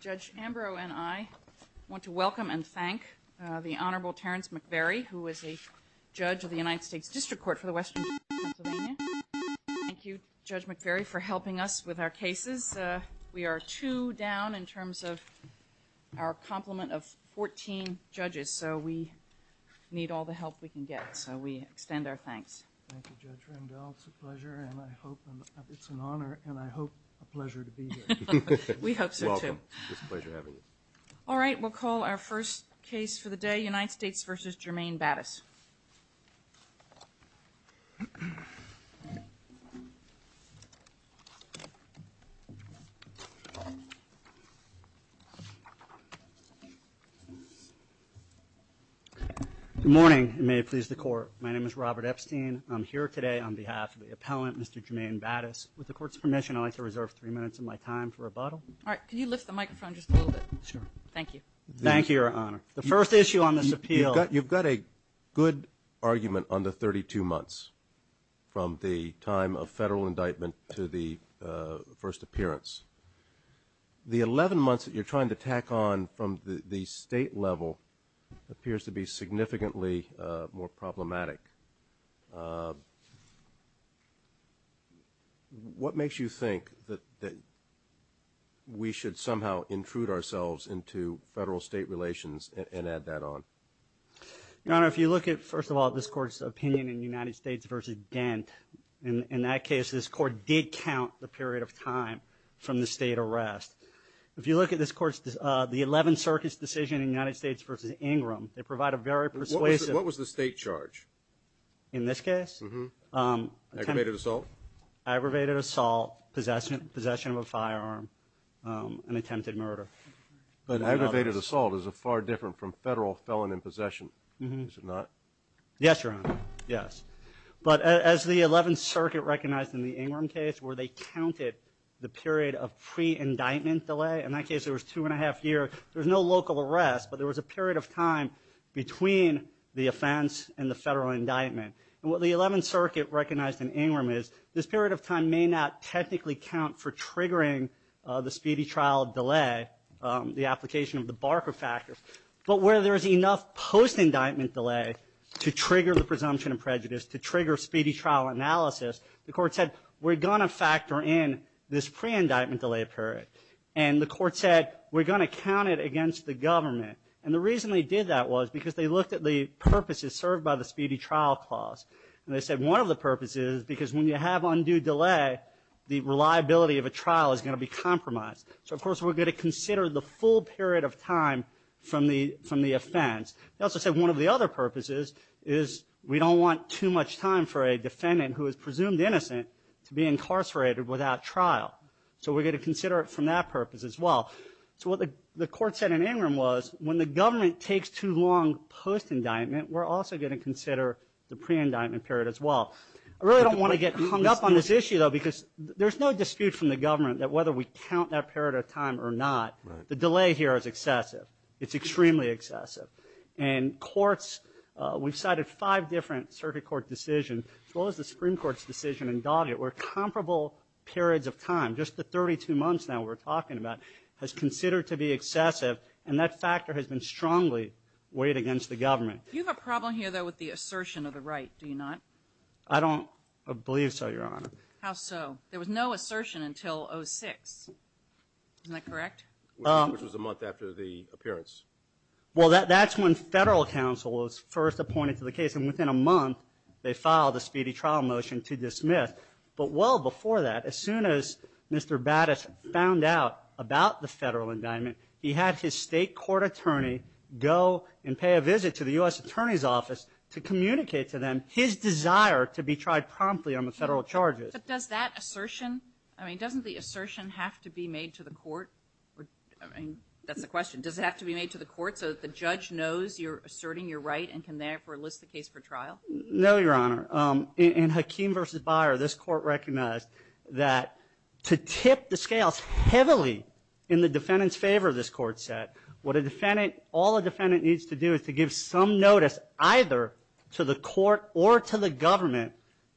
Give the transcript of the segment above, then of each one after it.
Judge Ambrose and I want to welcome and thank the Honorable Terence McVeary who is a judge of the United States District Court for the Western Pennsylvania. Thank you Judge McVeary for helping us with our cases. We are two down in terms of our complement of 14 judges so we need all the help we can get so we extend our All right we'll call our first case for the day United States v. Jermaine Battis. Good morning and may it please the court. My name is Robert Epstein. I'm here today on behalf of the appellant Mr. Jermaine Battis. With the court's permission I'd like to reserve three minutes of my time for rebuttal. All right can you lift the microphone just a little bit? Sure. Thank you. Thank you Your Honor. The first issue on this appeal. You've got a good argument on the 32 months from the time of federal indictment to the first appearance. The 11 months that you're trying to tack on from the state level appears to be significantly more problematic. What makes you think that we should somehow intrude ourselves into federal-state relations and add that on? Your Honor if you look at first of all this court's opinion in United States v. Dent in that case this court did count the period of time from the state arrest. If you look at this court's the 11 circuits decision in United States v. Ingram they provide a very persuasive... What was the state charge? In this case? Aggravated assault. Aggravated assault, possession of a firearm, an attempted murder. But aggravated assault is a far different from federal felon in possession is it not? Yes Your Honor. Yes. But as the 11th Circuit recognized in the Ingram case where they counted the period of pre-indictment delay in that case there was two and a half years there's no local arrest but there was a period of time between the offense and the federal indictment. What the 11th Circuit recognized in Ingram is this period of time may not technically count for triggering the speedy trial delay the application of the Barker factor but where there is enough post-indictment delay to trigger the presumption of prejudice to trigger speedy trial analysis the court said we're gonna factor in this pre-indictment delay period and the court said we're going to count it against the government and the reason they did that was because they looked at the purposes served by the speedy trial clause and they said one of the purposes because when you have undue delay the reliability of a trial is going to be compromised so of course we're going to consider the full period of time from the offense. They also said one of the other purposes is we don't want too much time for a defendant who is presumed innocent to be incarcerated without trial so we're going to consider it from that purpose as well. So what the court said in Ingram was when the government takes too long post-indictment we're also going to consider the pre-indictment period as well. I really don't want to get hung up on this issue though because there's no dispute from the government that whether we count that period of time or not the delay here is excessive it's extremely excessive and courts we've cited five different circuit court decisions as well as the Supreme Court's decision in Doggett where comparable periods of time just the 32 months now we're talking about has considered to be excessive and that factor has been strongly weighed against the government. You have a problem here though with the assertion of the right, do you not? I don't believe so your honor. How so? There was no assertion until 06. Is that correct? Which was a month after the appearance. Well that's when federal counsel was first appointed to the case and within a month they filed a speedy trial motion to dismiss but well before that as soon as Mr. Battis found out about the federal indictment he had his state court attorney go and pay a visit to the U.S. Attorney's Office to communicate to them his desire to be tried promptly on the federal charges. But does that assertion, I mean doesn't the assertion have to be made to the court so that the judge knows you're asserting your right and can therefore list the case for trial? No your honor. In Hakeem v. Byer this court recognized that to tip the scales heavily in the defendant's favor this court set, what a defendant, all a defendant needs to do is to give some notice either to the court or to the government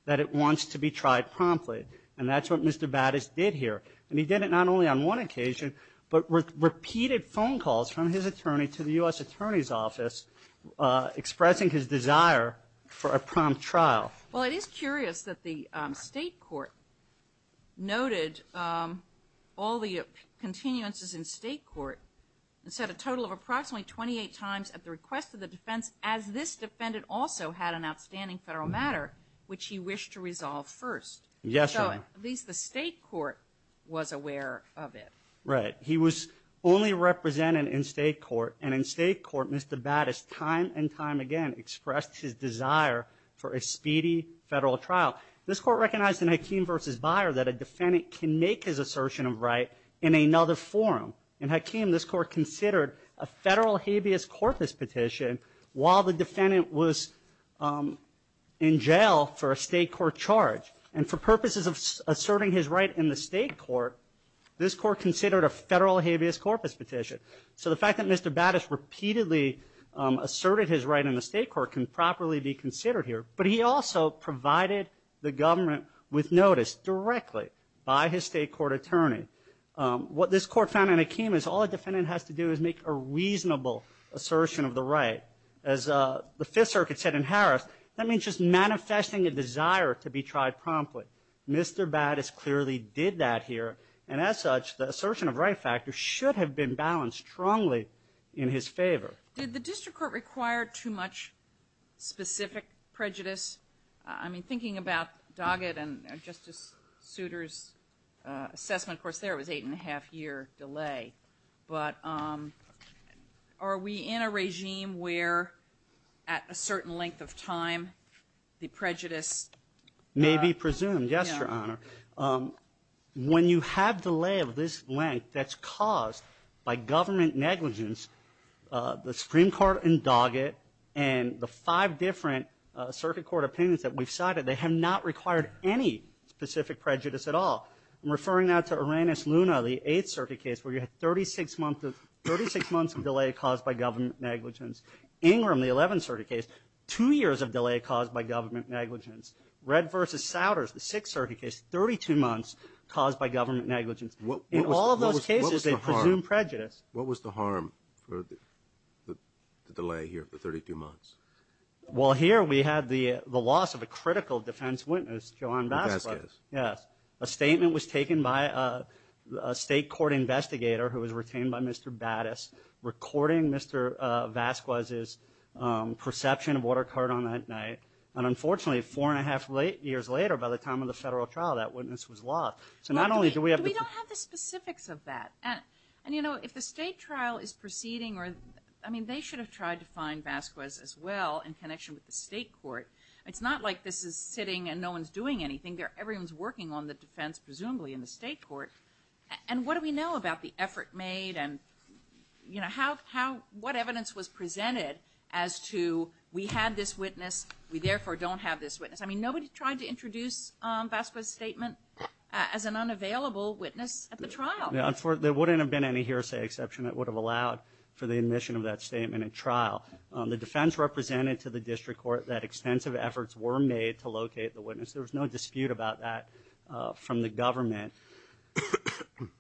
that it wants to be tried promptly and that's what Mr. Battis did here and he did it not only on one occasion but with repeated phone calls from his attorney to the U.S. Attorney's Office expressing his desire for a prompt trial. Well it is curious that the state court noted all the continuances in state court and said a total of approximately 28 times at the request of the defense as this defendant also had an outstanding federal matter which he wished to resolve first. Yes. So at least the state court was aware of it. Right he was only represented in state court and in state court Mr. Battis time and time again expressed his desire for a speedy federal trial. This court recognized in Hakeem v. Byer that a defendant can make his assertion of right in another forum. In Hakeem this court considered a federal habeas corpus petition while the defendant was in jail for a state court charge and for purposes of asserting his right in the state court this court considered a federal habeas corpus petition. So the fact that Mr. Battis repeatedly asserted his right in the state court can properly be considered here but he also provided the government with notice directly by his state court attorney. What this court found in Hakeem is all a defendant has to do is make a reasonable assertion of the right. As the Fifth Circuit said in Harris that means just manifesting a desire to be tried promptly. Mr. Battis clearly did that here and as such the assertion of right factor should have been balanced strongly in his favor. Did the district court require too much specific prejudice? I mean thinking about Doggett and Justice Souter's assessment of course there was eight and a half year delay but are we in a regime where at a certain length of time the prejudice may be presumed? Yes, Your Honor. When you have delay of this length that's caused by government negligence the Supreme Court in Doggett and the five different circuit court opinions that we've cited they have not required any specific prejudice at all. I'm referring now to Uranus Luna the 8th Circuit case where you had 36 months of 36 months of delay caused by government negligence. Ingram the 11th caused by government negligence. Red vs. Souters the 6th Circuit case, 32 months caused by government negligence. In all those cases they presume prejudice. What was the harm for the delay here for 32 months? Well here we had the the loss of a critical defense witness, John Vasquez. Yes, a statement was taken by a state court investigator who was retained by Mr. Battis recording Mr. Vasquez's perception of what occurred on that night and unfortunately four and a half years later by the time of the federal trial that witness was lost. So not only do we have the specifics of that and you know if the state trial is proceeding or I mean they should have tried to find Vasquez as well in connection with the state court. It's not like this is sitting and no one's doing anything there. Everyone's working on the defense presumably in the state court and what do we know about the effort made and you know how what evidence was we had this witness we therefore don't have this witness. I mean nobody tried to introduce Vasquez's statement as an unavailable witness at the trial. There wouldn't have been any hearsay exception that would have allowed for the admission of that statement at trial. The defense represented to the district court that extensive efforts were made to locate the witness. There was no dispute about that from the government.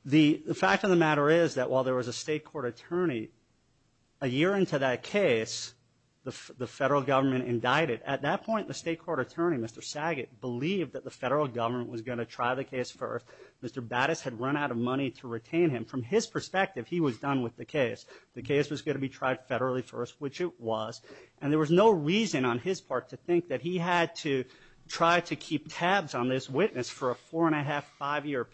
The fact of the matter is that while there was a state court attorney a year into that case the federal government indicted. At that point the state court attorney Mr. Saget believed that the federal government was going to try the case first. Mr. Battis had run out of money to retain him. From his perspective he was done with the case. The case was going to be tried federally first which it was and there was no reason on his part to think that he had to try to keep tabs on this witness for a four and a half years.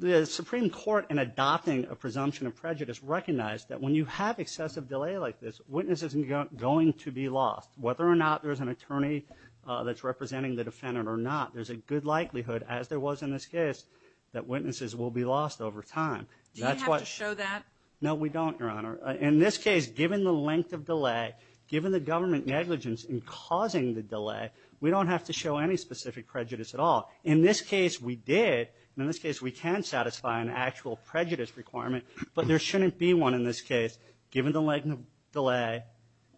The Supreme Court in adopting a presumption of prejudice recognized that when you have excessive delay like this witness isn't going to be lost. Whether or not there's an attorney that's representing the defendant or not there's a good likelihood as there was in this case that witnesses will be lost over time. Do you have to show that? No we don't your honor. In this case given the length of delay given the government negligence in causing the delay we don't have to show any specific prejudice at all. In this case we did. In this case we can satisfy an actual prejudice requirement but there shouldn't be one in this case given the length of delay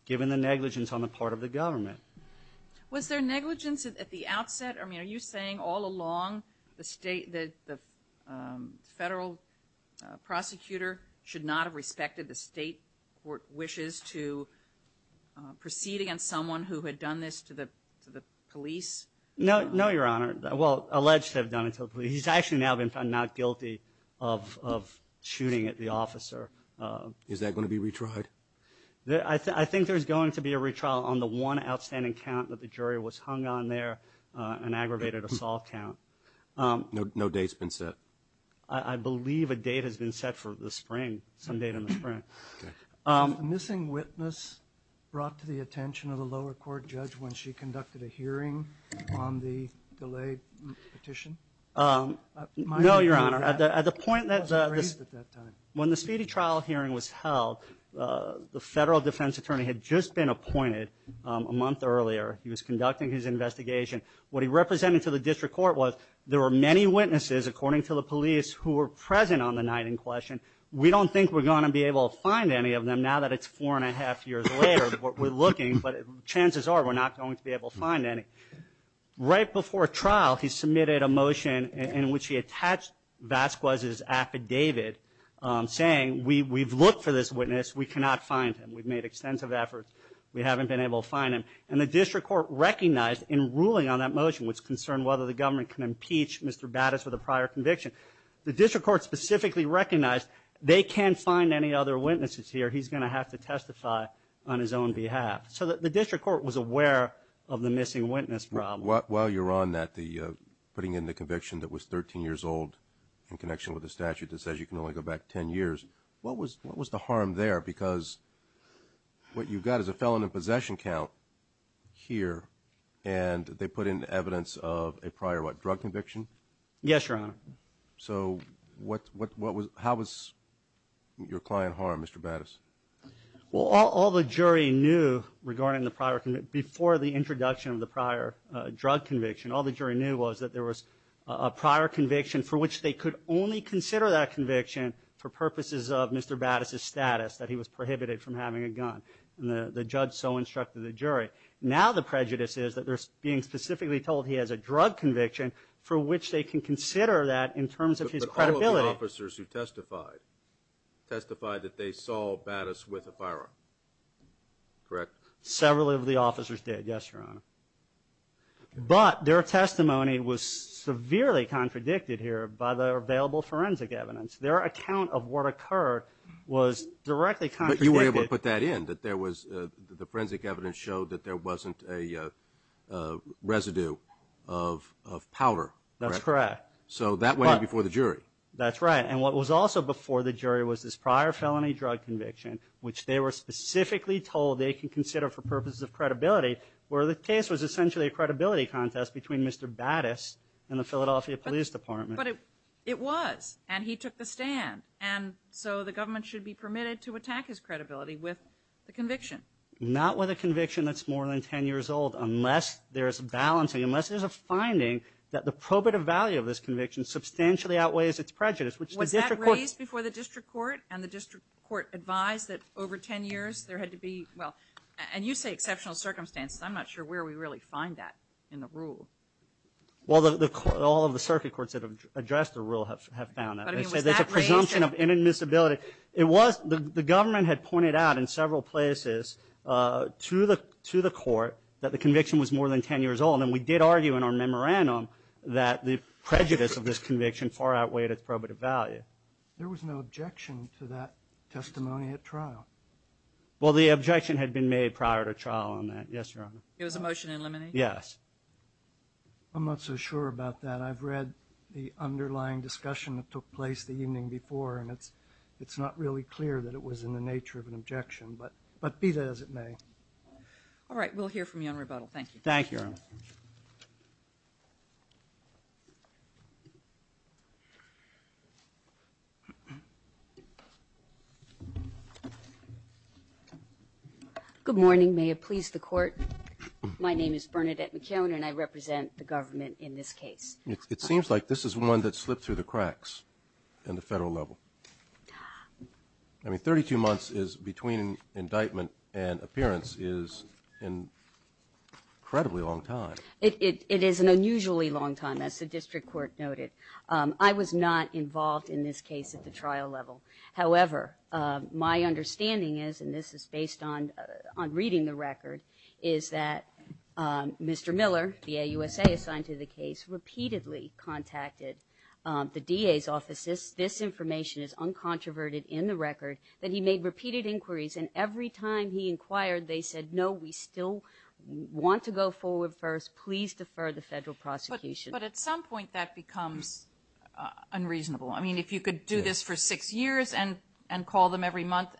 given the negligence on the part of the government. Was there negligence at the outset? I mean are you saying all along the state that the federal prosecutor should not have respected the state court wishes to proceed against someone who had done this to the police? No your honor. Well alleged to have done it to the police. He's actually now been found not guilty of shooting at the officer. Is that going to be retried? I think there's going to be a retrial on the one outstanding count that the jury was hung on there an aggravated assault count. No date's been set? I believe a date has been set for the spring, some date in the when she conducted a hearing on the delayed petition? No your honor. At the point when the speedy trial hearing was held the federal defense attorney had just been appointed a month earlier. He was conducting his investigation. What he represented to the district court was there were many witnesses according to the police who were present on the night in question. We don't think we're going to be able to find any of them now that it's four and a half years later. We're not going to be able to find any. Right before trial he submitted a motion in which he attached Vasquez's affidavit saying we've looked for this witness we cannot find him. We've made extensive efforts we haven't been able to find him and the district court recognized in ruling on that motion was concerned whether the government can impeach Mr. Battis with a prior conviction. The district court specifically recognized they can't find any other witnesses here he's going to have to testify on his own behalf. So that the district court was aware of the missing witness problem. While you're on that the putting in the conviction that was 13 years old in connection with the statute that says you can only go back 10 years what was what was the harm there because what you've got is a felon in possession count here and they put in evidence of a prior what drug conviction? Yes your honor. So what what was how was your client harmed Mr. Battis? Well all the jury knew regarding the prior before the introduction of the prior drug conviction all the jury knew was that there was a prior conviction for which they could only consider that conviction for purposes of Mr. Battis' status that he was prohibited from having a gun. The judge so instructed the jury. Now the prejudice is that they're being specifically told he has a drug conviction for which they can consider that in terms of his credibility. But all of the officers who testified testified that they saw Battis with a firearm. Correct? Several of the officers did yes your honor. But their testimony was severely contradicted here by the available forensic evidence. Their account of what occurred was directly. But you were able to put that in that there was the forensic evidence showed that there wasn't a residue of powder. That's correct. So that way before the jury. That's right and what was also before the jury was this prior felony drug conviction which they were specifically told they can consider for purposes of credibility where the case was essentially a credibility contest between Mr. Battis and the Philadelphia Police Department. But it was and he took the stand and so the government should be permitted to attack his credibility with the conviction. Not with a conviction that's more than 10 years old unless there's a balancing unless there's a finding that the probative value of this conviction substantially outweighs its prejudice. Was that raised before the district court and the district court advised that over 10 years there had to be well and you say exceptional circumstances. I'm not sure where we really find that in the rule. Well the court all of the circuit courts that have addressed the rule have found that there's a presumption of inadmissibility. It was the government had pointed out in several places to the to the court that the conviction was more than 10 years old and we did argue in our memorandum that the prejudice of this conviction far outweighed its probative value. There was no objection to that testimony at trial. Well the objection had been made prior to trial on that. Yes Your Honor. It was a motion in limine? Yes. I'm not so sure about that. I've read the underlying discussion that took place the evening before and it's it's not really clear that it was in the nature of an objection but but be that as it may. All right we'll hear from you on rebuttal. Thank you. Thank you Your Honor. Good morning may it please the court. My name is Bernadette McKeown and I represent the government in this case. It seems like this is one that slipped through the cracks in the federal level. I mean 32 months is between indictment and appearance is an incredibly long time. It is an unusually long time as the I was not involved in this case at the trial level. However my understanding is and this is based on on reading the record is that Mr. Miller VA USA assigned to the case repeatedly contacted the DA's offices. This information is uncontroverted in the record that he made repeated inquiries and every time he inquired they said no we still want to go forward first please defer the unreasonable. I mean if you could do this for six years and and call them every month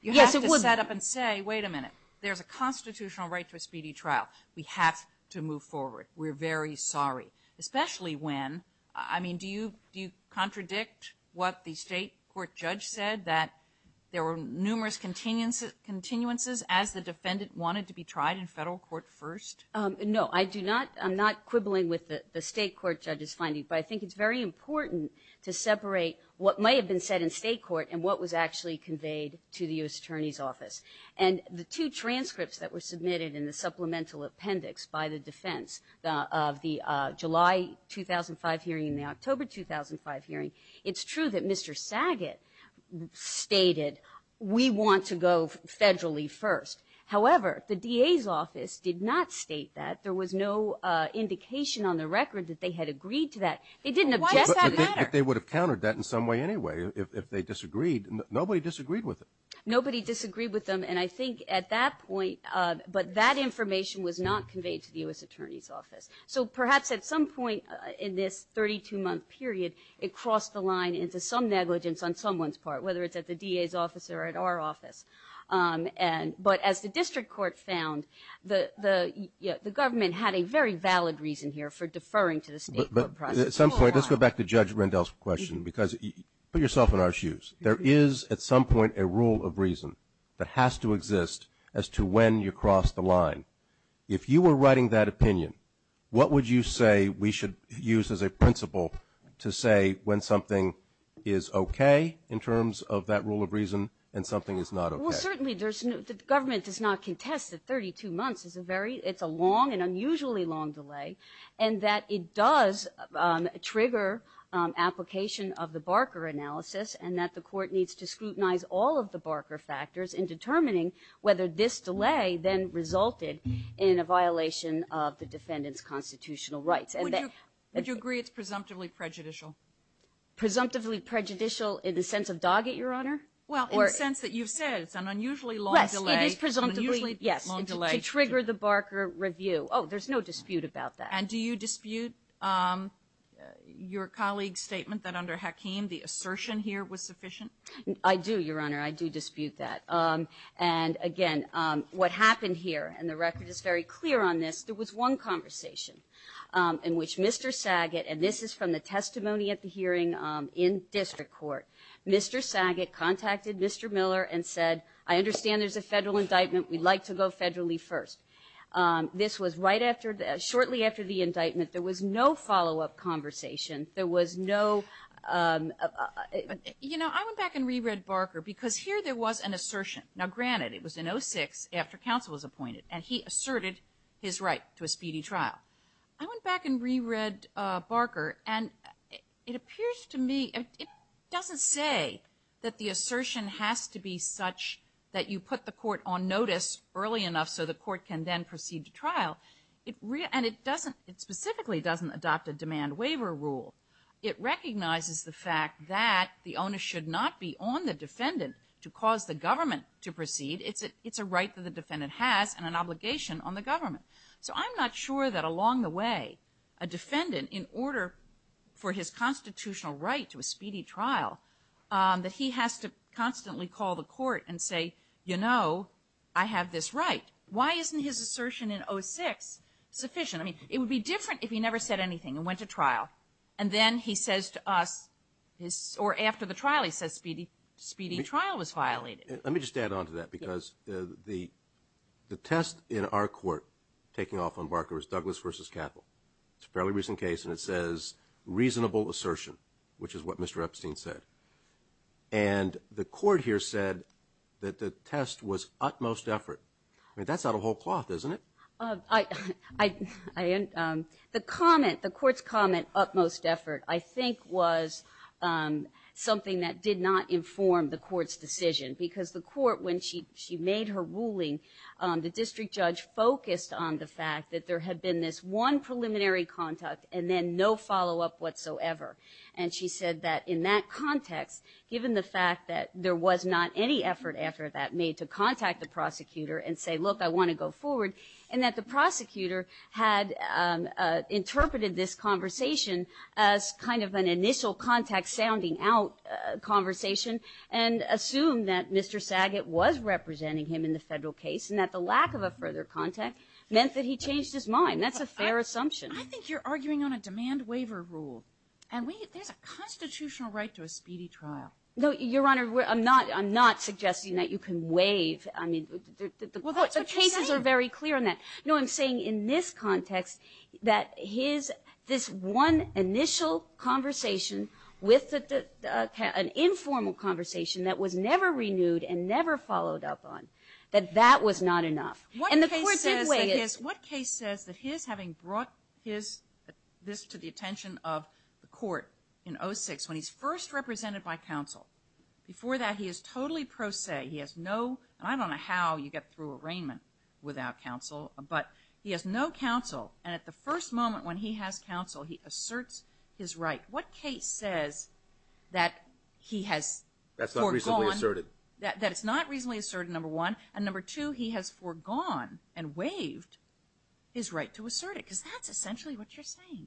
you have to set up and say wait a minute there's a constitutional right to a speedy trial. We have to move forward. We're very sorry especially when I mean do you do you contradict what the state court judge said that there were numerous continuance continuances as the defendant wanted to be tried in federal court first? No I do not I'm not quibbling with the state court judges finding but I think it's very important to separate what may have been said in state court and what was actually conveyed to the US Attorney's Office. And the two transcripts that were submitted in the supplemental appendix by the defense of the July 2005 hearing in the October 2005 hearing it's true that Mr. Saget stated we want to go federally first. However the DA's office did not state that. There was no indication on the record that they had agreed to that. They didn't object. But they would have countered that in some way anyway if they disagreed. Nobody disagreed with it. Nobody disagreed with them and I think at that point but that information was not conveyed to the US Attorney's Office. So perhaps at some point in this 32 month period it crossed the line into some negligence on someone's part whether it's at the DA's office or at our office. But as the district court found the the government had a very valid reason here for deferring to the state court process. At some point let's go back to Judge Rendell's question because put yourself in our shoes. There is at some point a rule of reason that has to exist as to when you cross the line. If you were writing that opinion what would you say we should use as a principle to say when something is okay in terms of that rule of reason and something is not okay. Well certainly the government does not contest that 32 months is a very it's a long and unusually long delay and that it does trigger application of the Barker analysis and that the court needs to scrutinize all of the Barker factors in determining whether this delay then resulted in a violation of the defendant's constitutional rights. Would you agree it's presumptively prejudicial? Presumptively prejudicial in the sense of Doggett your honor? Well in the sense that you've said it's an unusually long delay. Yes it is presumptively yes to trigger the Barker review. Oh there's no dispute about that. And do you dispute your colleague's statement that under Hakeem the assertion here was sufficient? I do your honor I do dispute that and again what happened here and the record is very clear on this there was one conversation in which Mr. Saget and this is from the testimony at the hearing in district court Mr. Saget contacted Mr. Miller and said I understand there's a federal indictment we'd like to go federally first this was right after that shortly after the indictment there was no follow-up conversation there was no you know I went back and reread Barker because here there was an assertion now granted it was in 06 after counsel was appointed and he asserted his right to a speedy trial I and it appears to me it doesn't say that the assertion has to be such that you put the court on notice early enough so the court can then proceed to trial it really and it doesn't it specifically doesn't adopt a demand waiver rule it recognizes the fact that the owner should not be on the defendant to cause the government to proceed it's a it's a right that the defendant has and an obligation on the government so I'm not sure that along the way a defendant in order for his constitutional right to a speedy trial that he has to constantly call the court and say you know I have this right why isn't his assertion in 06 sufficient I mean it would be different if he never said anything and went to trial and then he says to us his or after the trial he says speedy speedy trial was violated let me just add on to that because the the test in our court taking off on Barker is Douglas versus capital it's a fairly recent case and it says reasonable assertion which is what Mr. Epstein said and the court here said that the test was utmost effort I mean that's not a whole cloth isn't it I the comment the court's comment utmost effort I think was something that did not inform the court's decision because the court when she she made her ruling the district judge focused on the fact that there had been this one preliminary contact and then no follow-up whatsoever and she said that in that context given the fact that there was not any effort after that made to contact the prosecutor and say look I want to go forward and that the prosecutor had interpreted this conversation as kind of an initial contact sounding out conversation and assume that mr. Saget was representing him in the federal case and that the mind that's a fair assumption I think you're arguing on a demand waiver rule and we there's a constitutional right to a speedy trial no your honor I'm not I'm not suggesting that you can waive I mean the cases are very clear on that no I'm saying in this context that his this one initial conversation with an informal conversation that was never renewed and never followed up on that that was not enough and the way is what case says that his having brought his this to the attention of the court in 06 when he's first represented by counsel before that he is totally pro se he has no I don't know how you get through arraignment without counsel but he has no counsel and at the first moment when he has counsel he asserts his right what case says that he has that's not recently asserted number one and number two he has foregone and waived his right to assert it because that's essentially what you're saying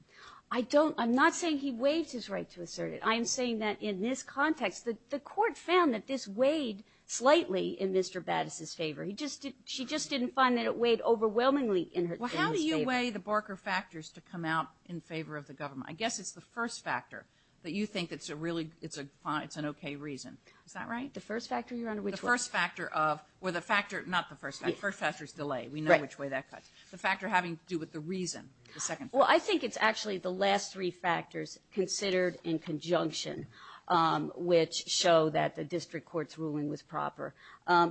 I don't I'm not saying he waived his right to assert it I am saying that in this context that the court found that this weighed slightly in mr. Battis his favor he just did she just didn't find that it weighed overwhelmingly in her how do you weigh the Barker factors to come out in favor of the government I guess it's the first factor that you think that's a really it's a it's an okay reason is that right the first factor you're under which the first factor of where the factor not the first night first factors delay we know which way that cuts the factor having to do with the reason the second well I think it's actually the last three factors considered in conjunction which show that the district courts ruling was proper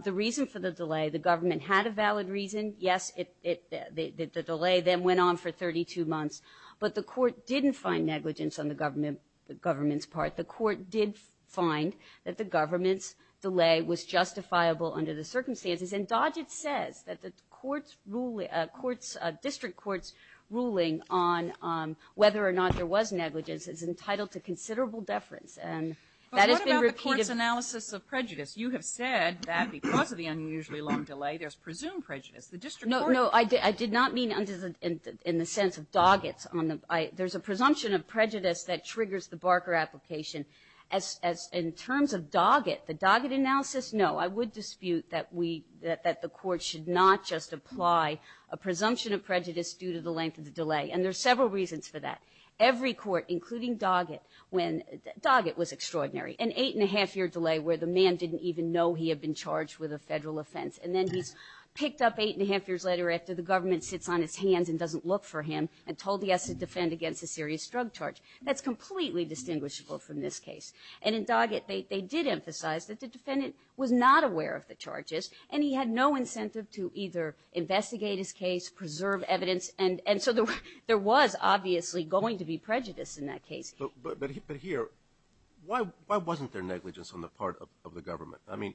the reason for the delay the government had a valid reason yes it did the delay then went on for 32 months but the court didn't find negligence on the government the government's part the court did find that the government's delay was justifiable under the circumstances and Dodge it says that the courts ruling courts district courts ruling on whether or not there was negligence is entitled to considerable deference and that has been repeated analysis of prejudice you have said that because of the unusually long delay there's presumed prejudice the district no no I did not mean under the in the sense of dog it's on the I there's a presumption of prejudice that triggers the Barker application as in terms of dog it the dog it analysis no I would dispute that we that the court should not just apply a presumption of prejudice due to the length of the delay and there's several reasons for that every court including dog it when dog it was extraordinary an eight and a half year delay where the man didn't even know he had been charged with a federal offense and then he's picked up eight and a half years later after the him and told he has to defend against a serious drug charge that's completely distinguishable from this case and in dog it they did emphasize that the defendant was not aware of the charges and he had no incentive to either investigate his case preserve evidence and and so there was obviously going to be prejudice in that case but here why wasn't there negligence on the part of the government I mean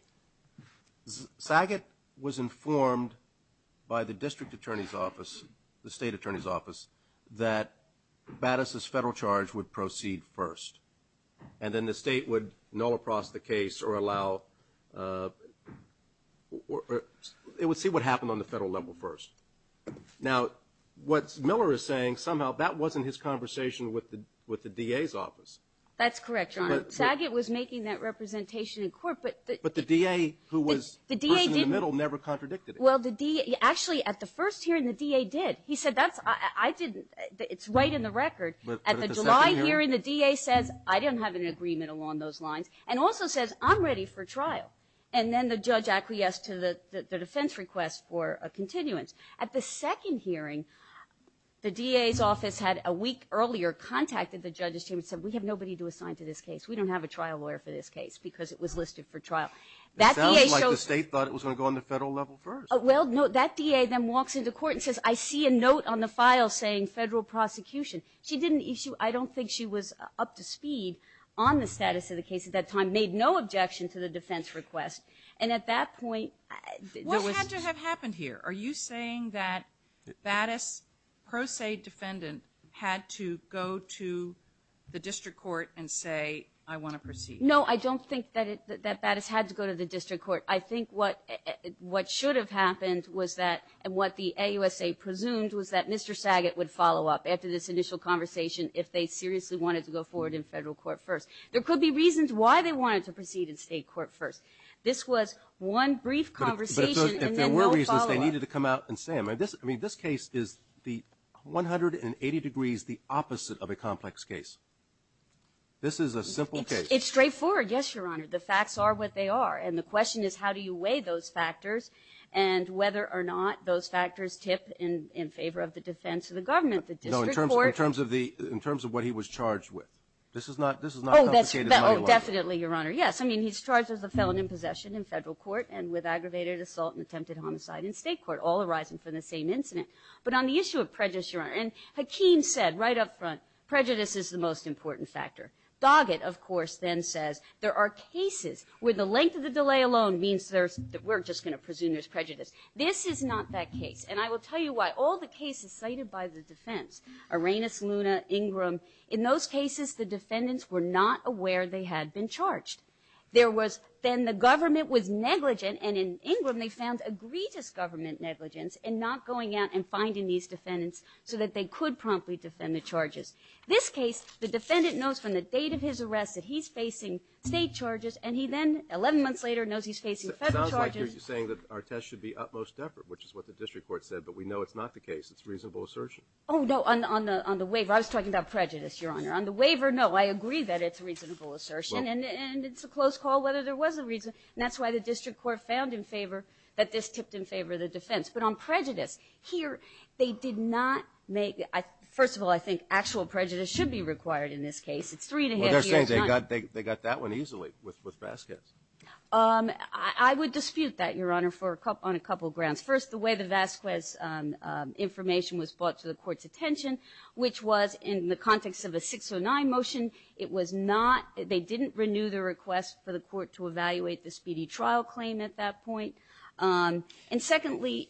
sagat was informed by the district attorney's office the state attorney's office that badasses federal charge would proceed first and then the state would know across the case or allow it would see what happened on the federal level first now what's Miller is saying somehow that wasn't his conversation with the with the DA's office that's correct John sagat was making that representation in court but but the DA who was the DA didn't middle never contradicted well the D actually at the first hearing the DA did he said that's I didn't it's right in the record at the July hearing the DA says I don't have an agreement along those lines and also says I'm ready for trial and then the judge acquiesced to the defense request for a continuance at the second hearing the DA's office had a week earlier contacted the judges team and said we have nobody to assign to this case we don't have a trial lawyer for this case because it was listed for trial that sounds like the state thought it was gonna go on the federal level first well no that DA then walks into court and says I see a note on the file saying federal prosecution she didn't issue I don't think she was up to speed on the status of the case at that time made no objection to the defense request and at that point what had to have happened here are you saying that that is pro se defendant had to go to the district court and say I want to proceed no I don't think that it that that has had to go to the district court I think what what should have happened was that and what the AUSA presumed was that mr. Saget would follow up after this initial conversation if they seriously wanted to go forward in federal court first there could be reasons why they wanted to proceed in state court first this was one brief conversation they needed to come out and say I mean this I mean this case is the 180 degrees the opposite of a complex case this is a simple case it's straightforward yes your honor the facts are what they are and the question is how do you weigh those factors and whether or not those factors tip in in favor of the defense of the government the district court terms of the in terms of what he was charged with this is not this is not that's definitely your honor yes I mean he's charged as a felon in possession in federal court and with aggravated assault and attempted homicide in state court all arising from the same incident but on the issue of prejudice your honor and Hakeem said right up front prejudice is the most important factor Doggett of course then there are cases where the length of the delay alone means there's that we're just gonna presume there's prejudice this is not that case and I will tell you why all the cases cited by the defense arenas Luna Ingram in those cases the defendants were not aware they had been charged there was then the government was negligent and in Ingram they found a grievous government negligence and not going out and finding these defendants so that they could promptly defend the charges this case the defendant knows from the date of his arrest that he's facing state charges and he then 11 months later knows he's facing federal charges saying that our test should be utmost effort which is what the district court said but we know it's not the case it's reasonable assertion oh no I'm on the waiver I was talking about prejudice your honor on the waiver no I agree that it's reasonable assertion and it's a close call whether there was a reason that's why the district court found in favor that this tipped in favor of the defense but on prejudice here they did not make I first of all I think actual prejudice should be required in this case it's they got they got that one easily with with baskets I would dispute that your honor for a cup on a couple grounds first the way the Vasquez information was brought to the court's attention which was in the context of a 609 motion it was not they didn't renew the request for the court to evaluate the speedy trial claim at that point and secondly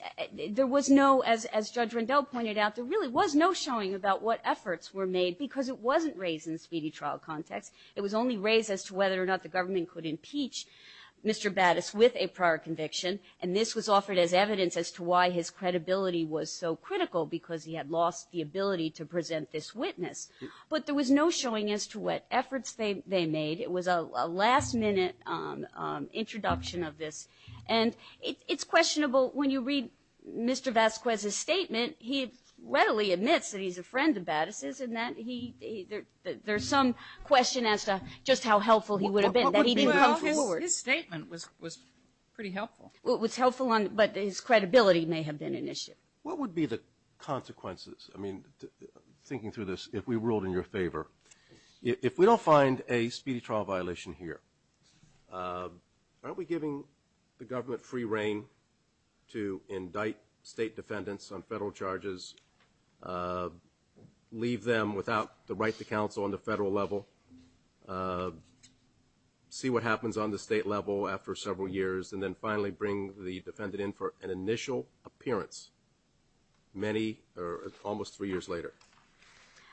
there was no as judge Rundell pointed out there really was no showing about what efforts were made because it wasn't raised in speedy trial context it was only raised as to whether or not the government could impeach mr. baddest with a prior conviction and this was offered as evidence as to why his credibility was so critical because he had lost the ability to present this witness but there was no showing as to what efforts they made it was a last-minute introduction of this and it's questionable when you read mr. Vasquez his statement he readily admits that he's a friend the baddest is and that he there's some question as to just how helpful he would have been statement was pretty helpful what was helpful on but his credibility may have been an issue what would be the consequences I mean thinking through this if we ruled in your favor if we don't find a speedy trial violation here aren't we giving the government free reign to indict state defendants on federal charges leave them without the right to counsel on the federal level see what happens on the state level after several years and then finally bring the defendant in for an initial appearance many or almost three years later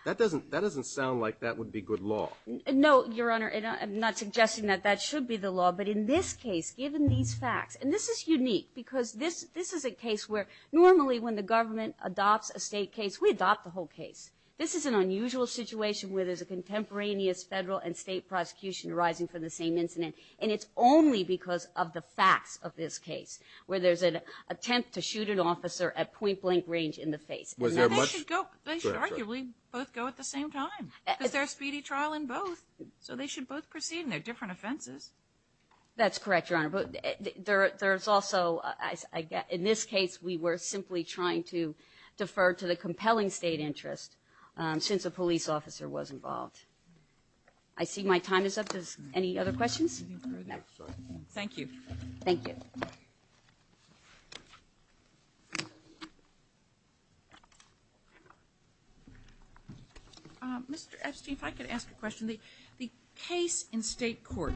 that doesn't that doesn't sound like that would be good law no your honor and I'm not suggesting that that should be the law but in this case given these facts and this is unique because this this is a case where normally when the government adopts a state case we adopt the whole case this is an unusual situation where there's a contemporaneous federal and state prosecution rising for the same incident and it's only because of the facts of this case where there's an attempt to shoot an officer at point-blank range in the face both go at the same time is there a speedy trial in both so they should both proceed in their different offenses that's correct your honor but there there's also I guess in this case we were simply trying to defer to the compelling state interest since a police officer was involved I see my time is up any other questions thank you thank you mr. Epstein if I could ask a question the the case in state court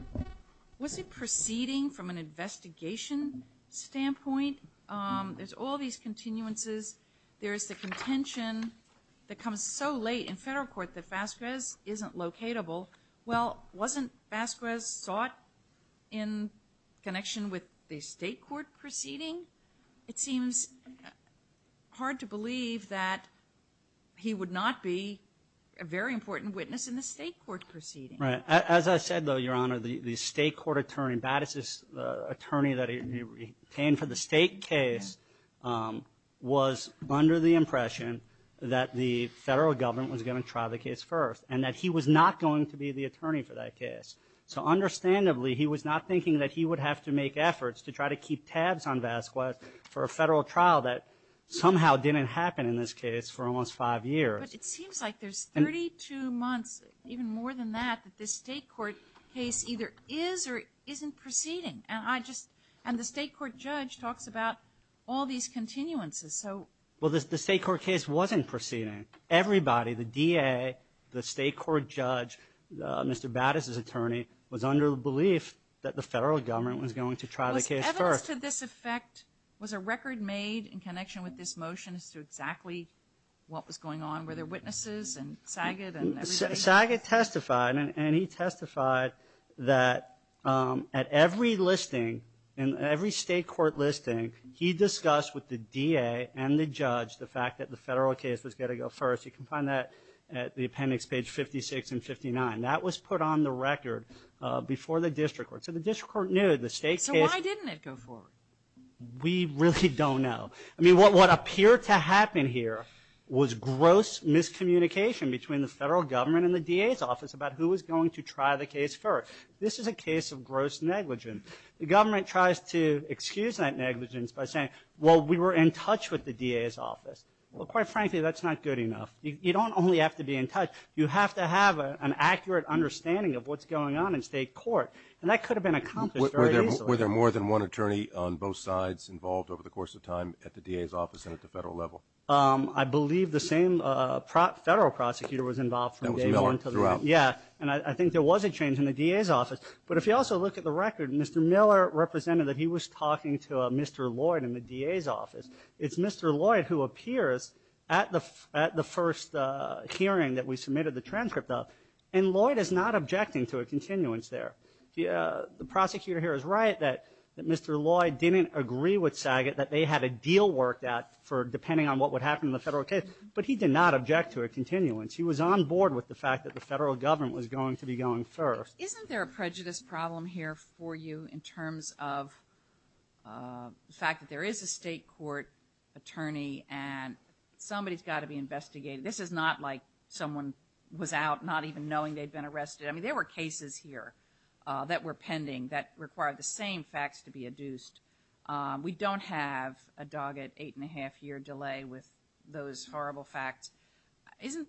was it proceeding from an investigation standpoint there's all these continuances there is the contention that comes so late in federal court that locatable well wasn't Basquez sought in connection with the state court proceeding it seems hard to believe that he would not be a very important witness in the state court proceeding right as I said though your honor the the state court attorney Battis attorney that he came for the state case was under the impression that the federal government was going to try the case first and that he was not going to be the attorney for that case so understandably he was not thinking that he would have to make efforts to try to keep tabs on Vasquez for a federal trial that somehow didn't happen in this case for almost five years it seems like there's 32 months even more than that that this state court case either is or isn't proceeding and I just and the state court judge talks about all these continuances so well this the state court case wasn't proceeding everybody the DA the state court judge mr. Battis his attorney was under the belief that the federal government was going to try the case first to this effect was a record made in connection with this motion is to exactly what was going on where their witnesses and sagat and sagat testified and he testified that at every listing in every state court listing he discussed with the DA and the judge the fact that the federal case was going to go first you can find that at the appendix page 56 and 59 that was put on the record before the district court so the district court knew the state so why didn't it go forward we really don't know I mean what what appeared to happen here was gross miscommunication between the federal government and the DA's office about who was going to try the case first this is a case of gross negligence by saying well we were in touch with the DA's office well quite frankly that's not good enough you don't only have to be in touch you have to have an accurate understanding of what's going on in state court and that could have been accomplished were there were there more than one attorney on both sides involved over the course of time at the DA's office and at the federal level I believe the same federal prosecutor was involved yeah and I think there was a change in the DA's office but if you also look at the record mr. talking to mr. Lloyd in the DA's office it's mr. Lloyd who appears at the at the first hearing that we submitted the transcript of and Lloyd is not objecting to a continuance there yeah the prosecutor here is right that that mr. Lloyd didn't agree with sagat that they had a deal worked out for depending on what would happen in the federal case but he did not object to a continuance he was on board with the fact that the federal government was going to be going isn't there a prejudice problem here for you in terms of the fact that there is a state court attorney and somebody's got to be investigated this is not like someone was out not even knowing they'd been arrested I mean there were cases here that were pending that required the same facts to be adduced we don't have a dog at eight and a half year delay with those horrible facts isn't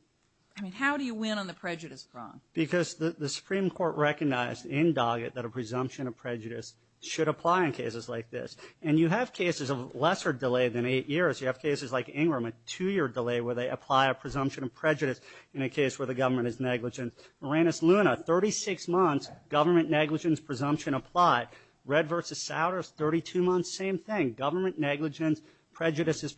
I mean how do you win on the prejudice because the Supreme Court recognized in Doggett that a presumption of prejudice should apply in cases like this and you have cases of lesser delay than eight years you have cases like Ingram a two-year delay where they apply a presumption of prejudice in a case where the government is negligent Uranus Luna 36 months government negligence presumption applied red versus Saudis 32 months same thing government negligence prejudice is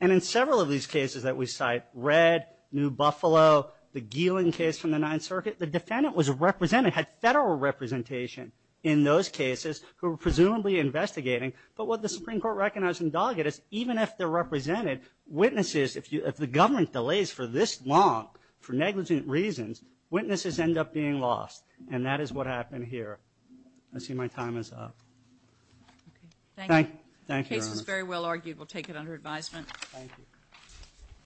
and in several of these cases that we cite red New Buffalo the Geeling case from the Ninth Circuit the defendant was represented had federal representation in those cases who were presumably investigating but what the Supreme Court recognized in Doggett is even if they're represented witnesses if you if the government delays for this long for negligent reasons witnesses end up being lost and that is what happened here I see my time is up thank you very well argued we'll take it under advisement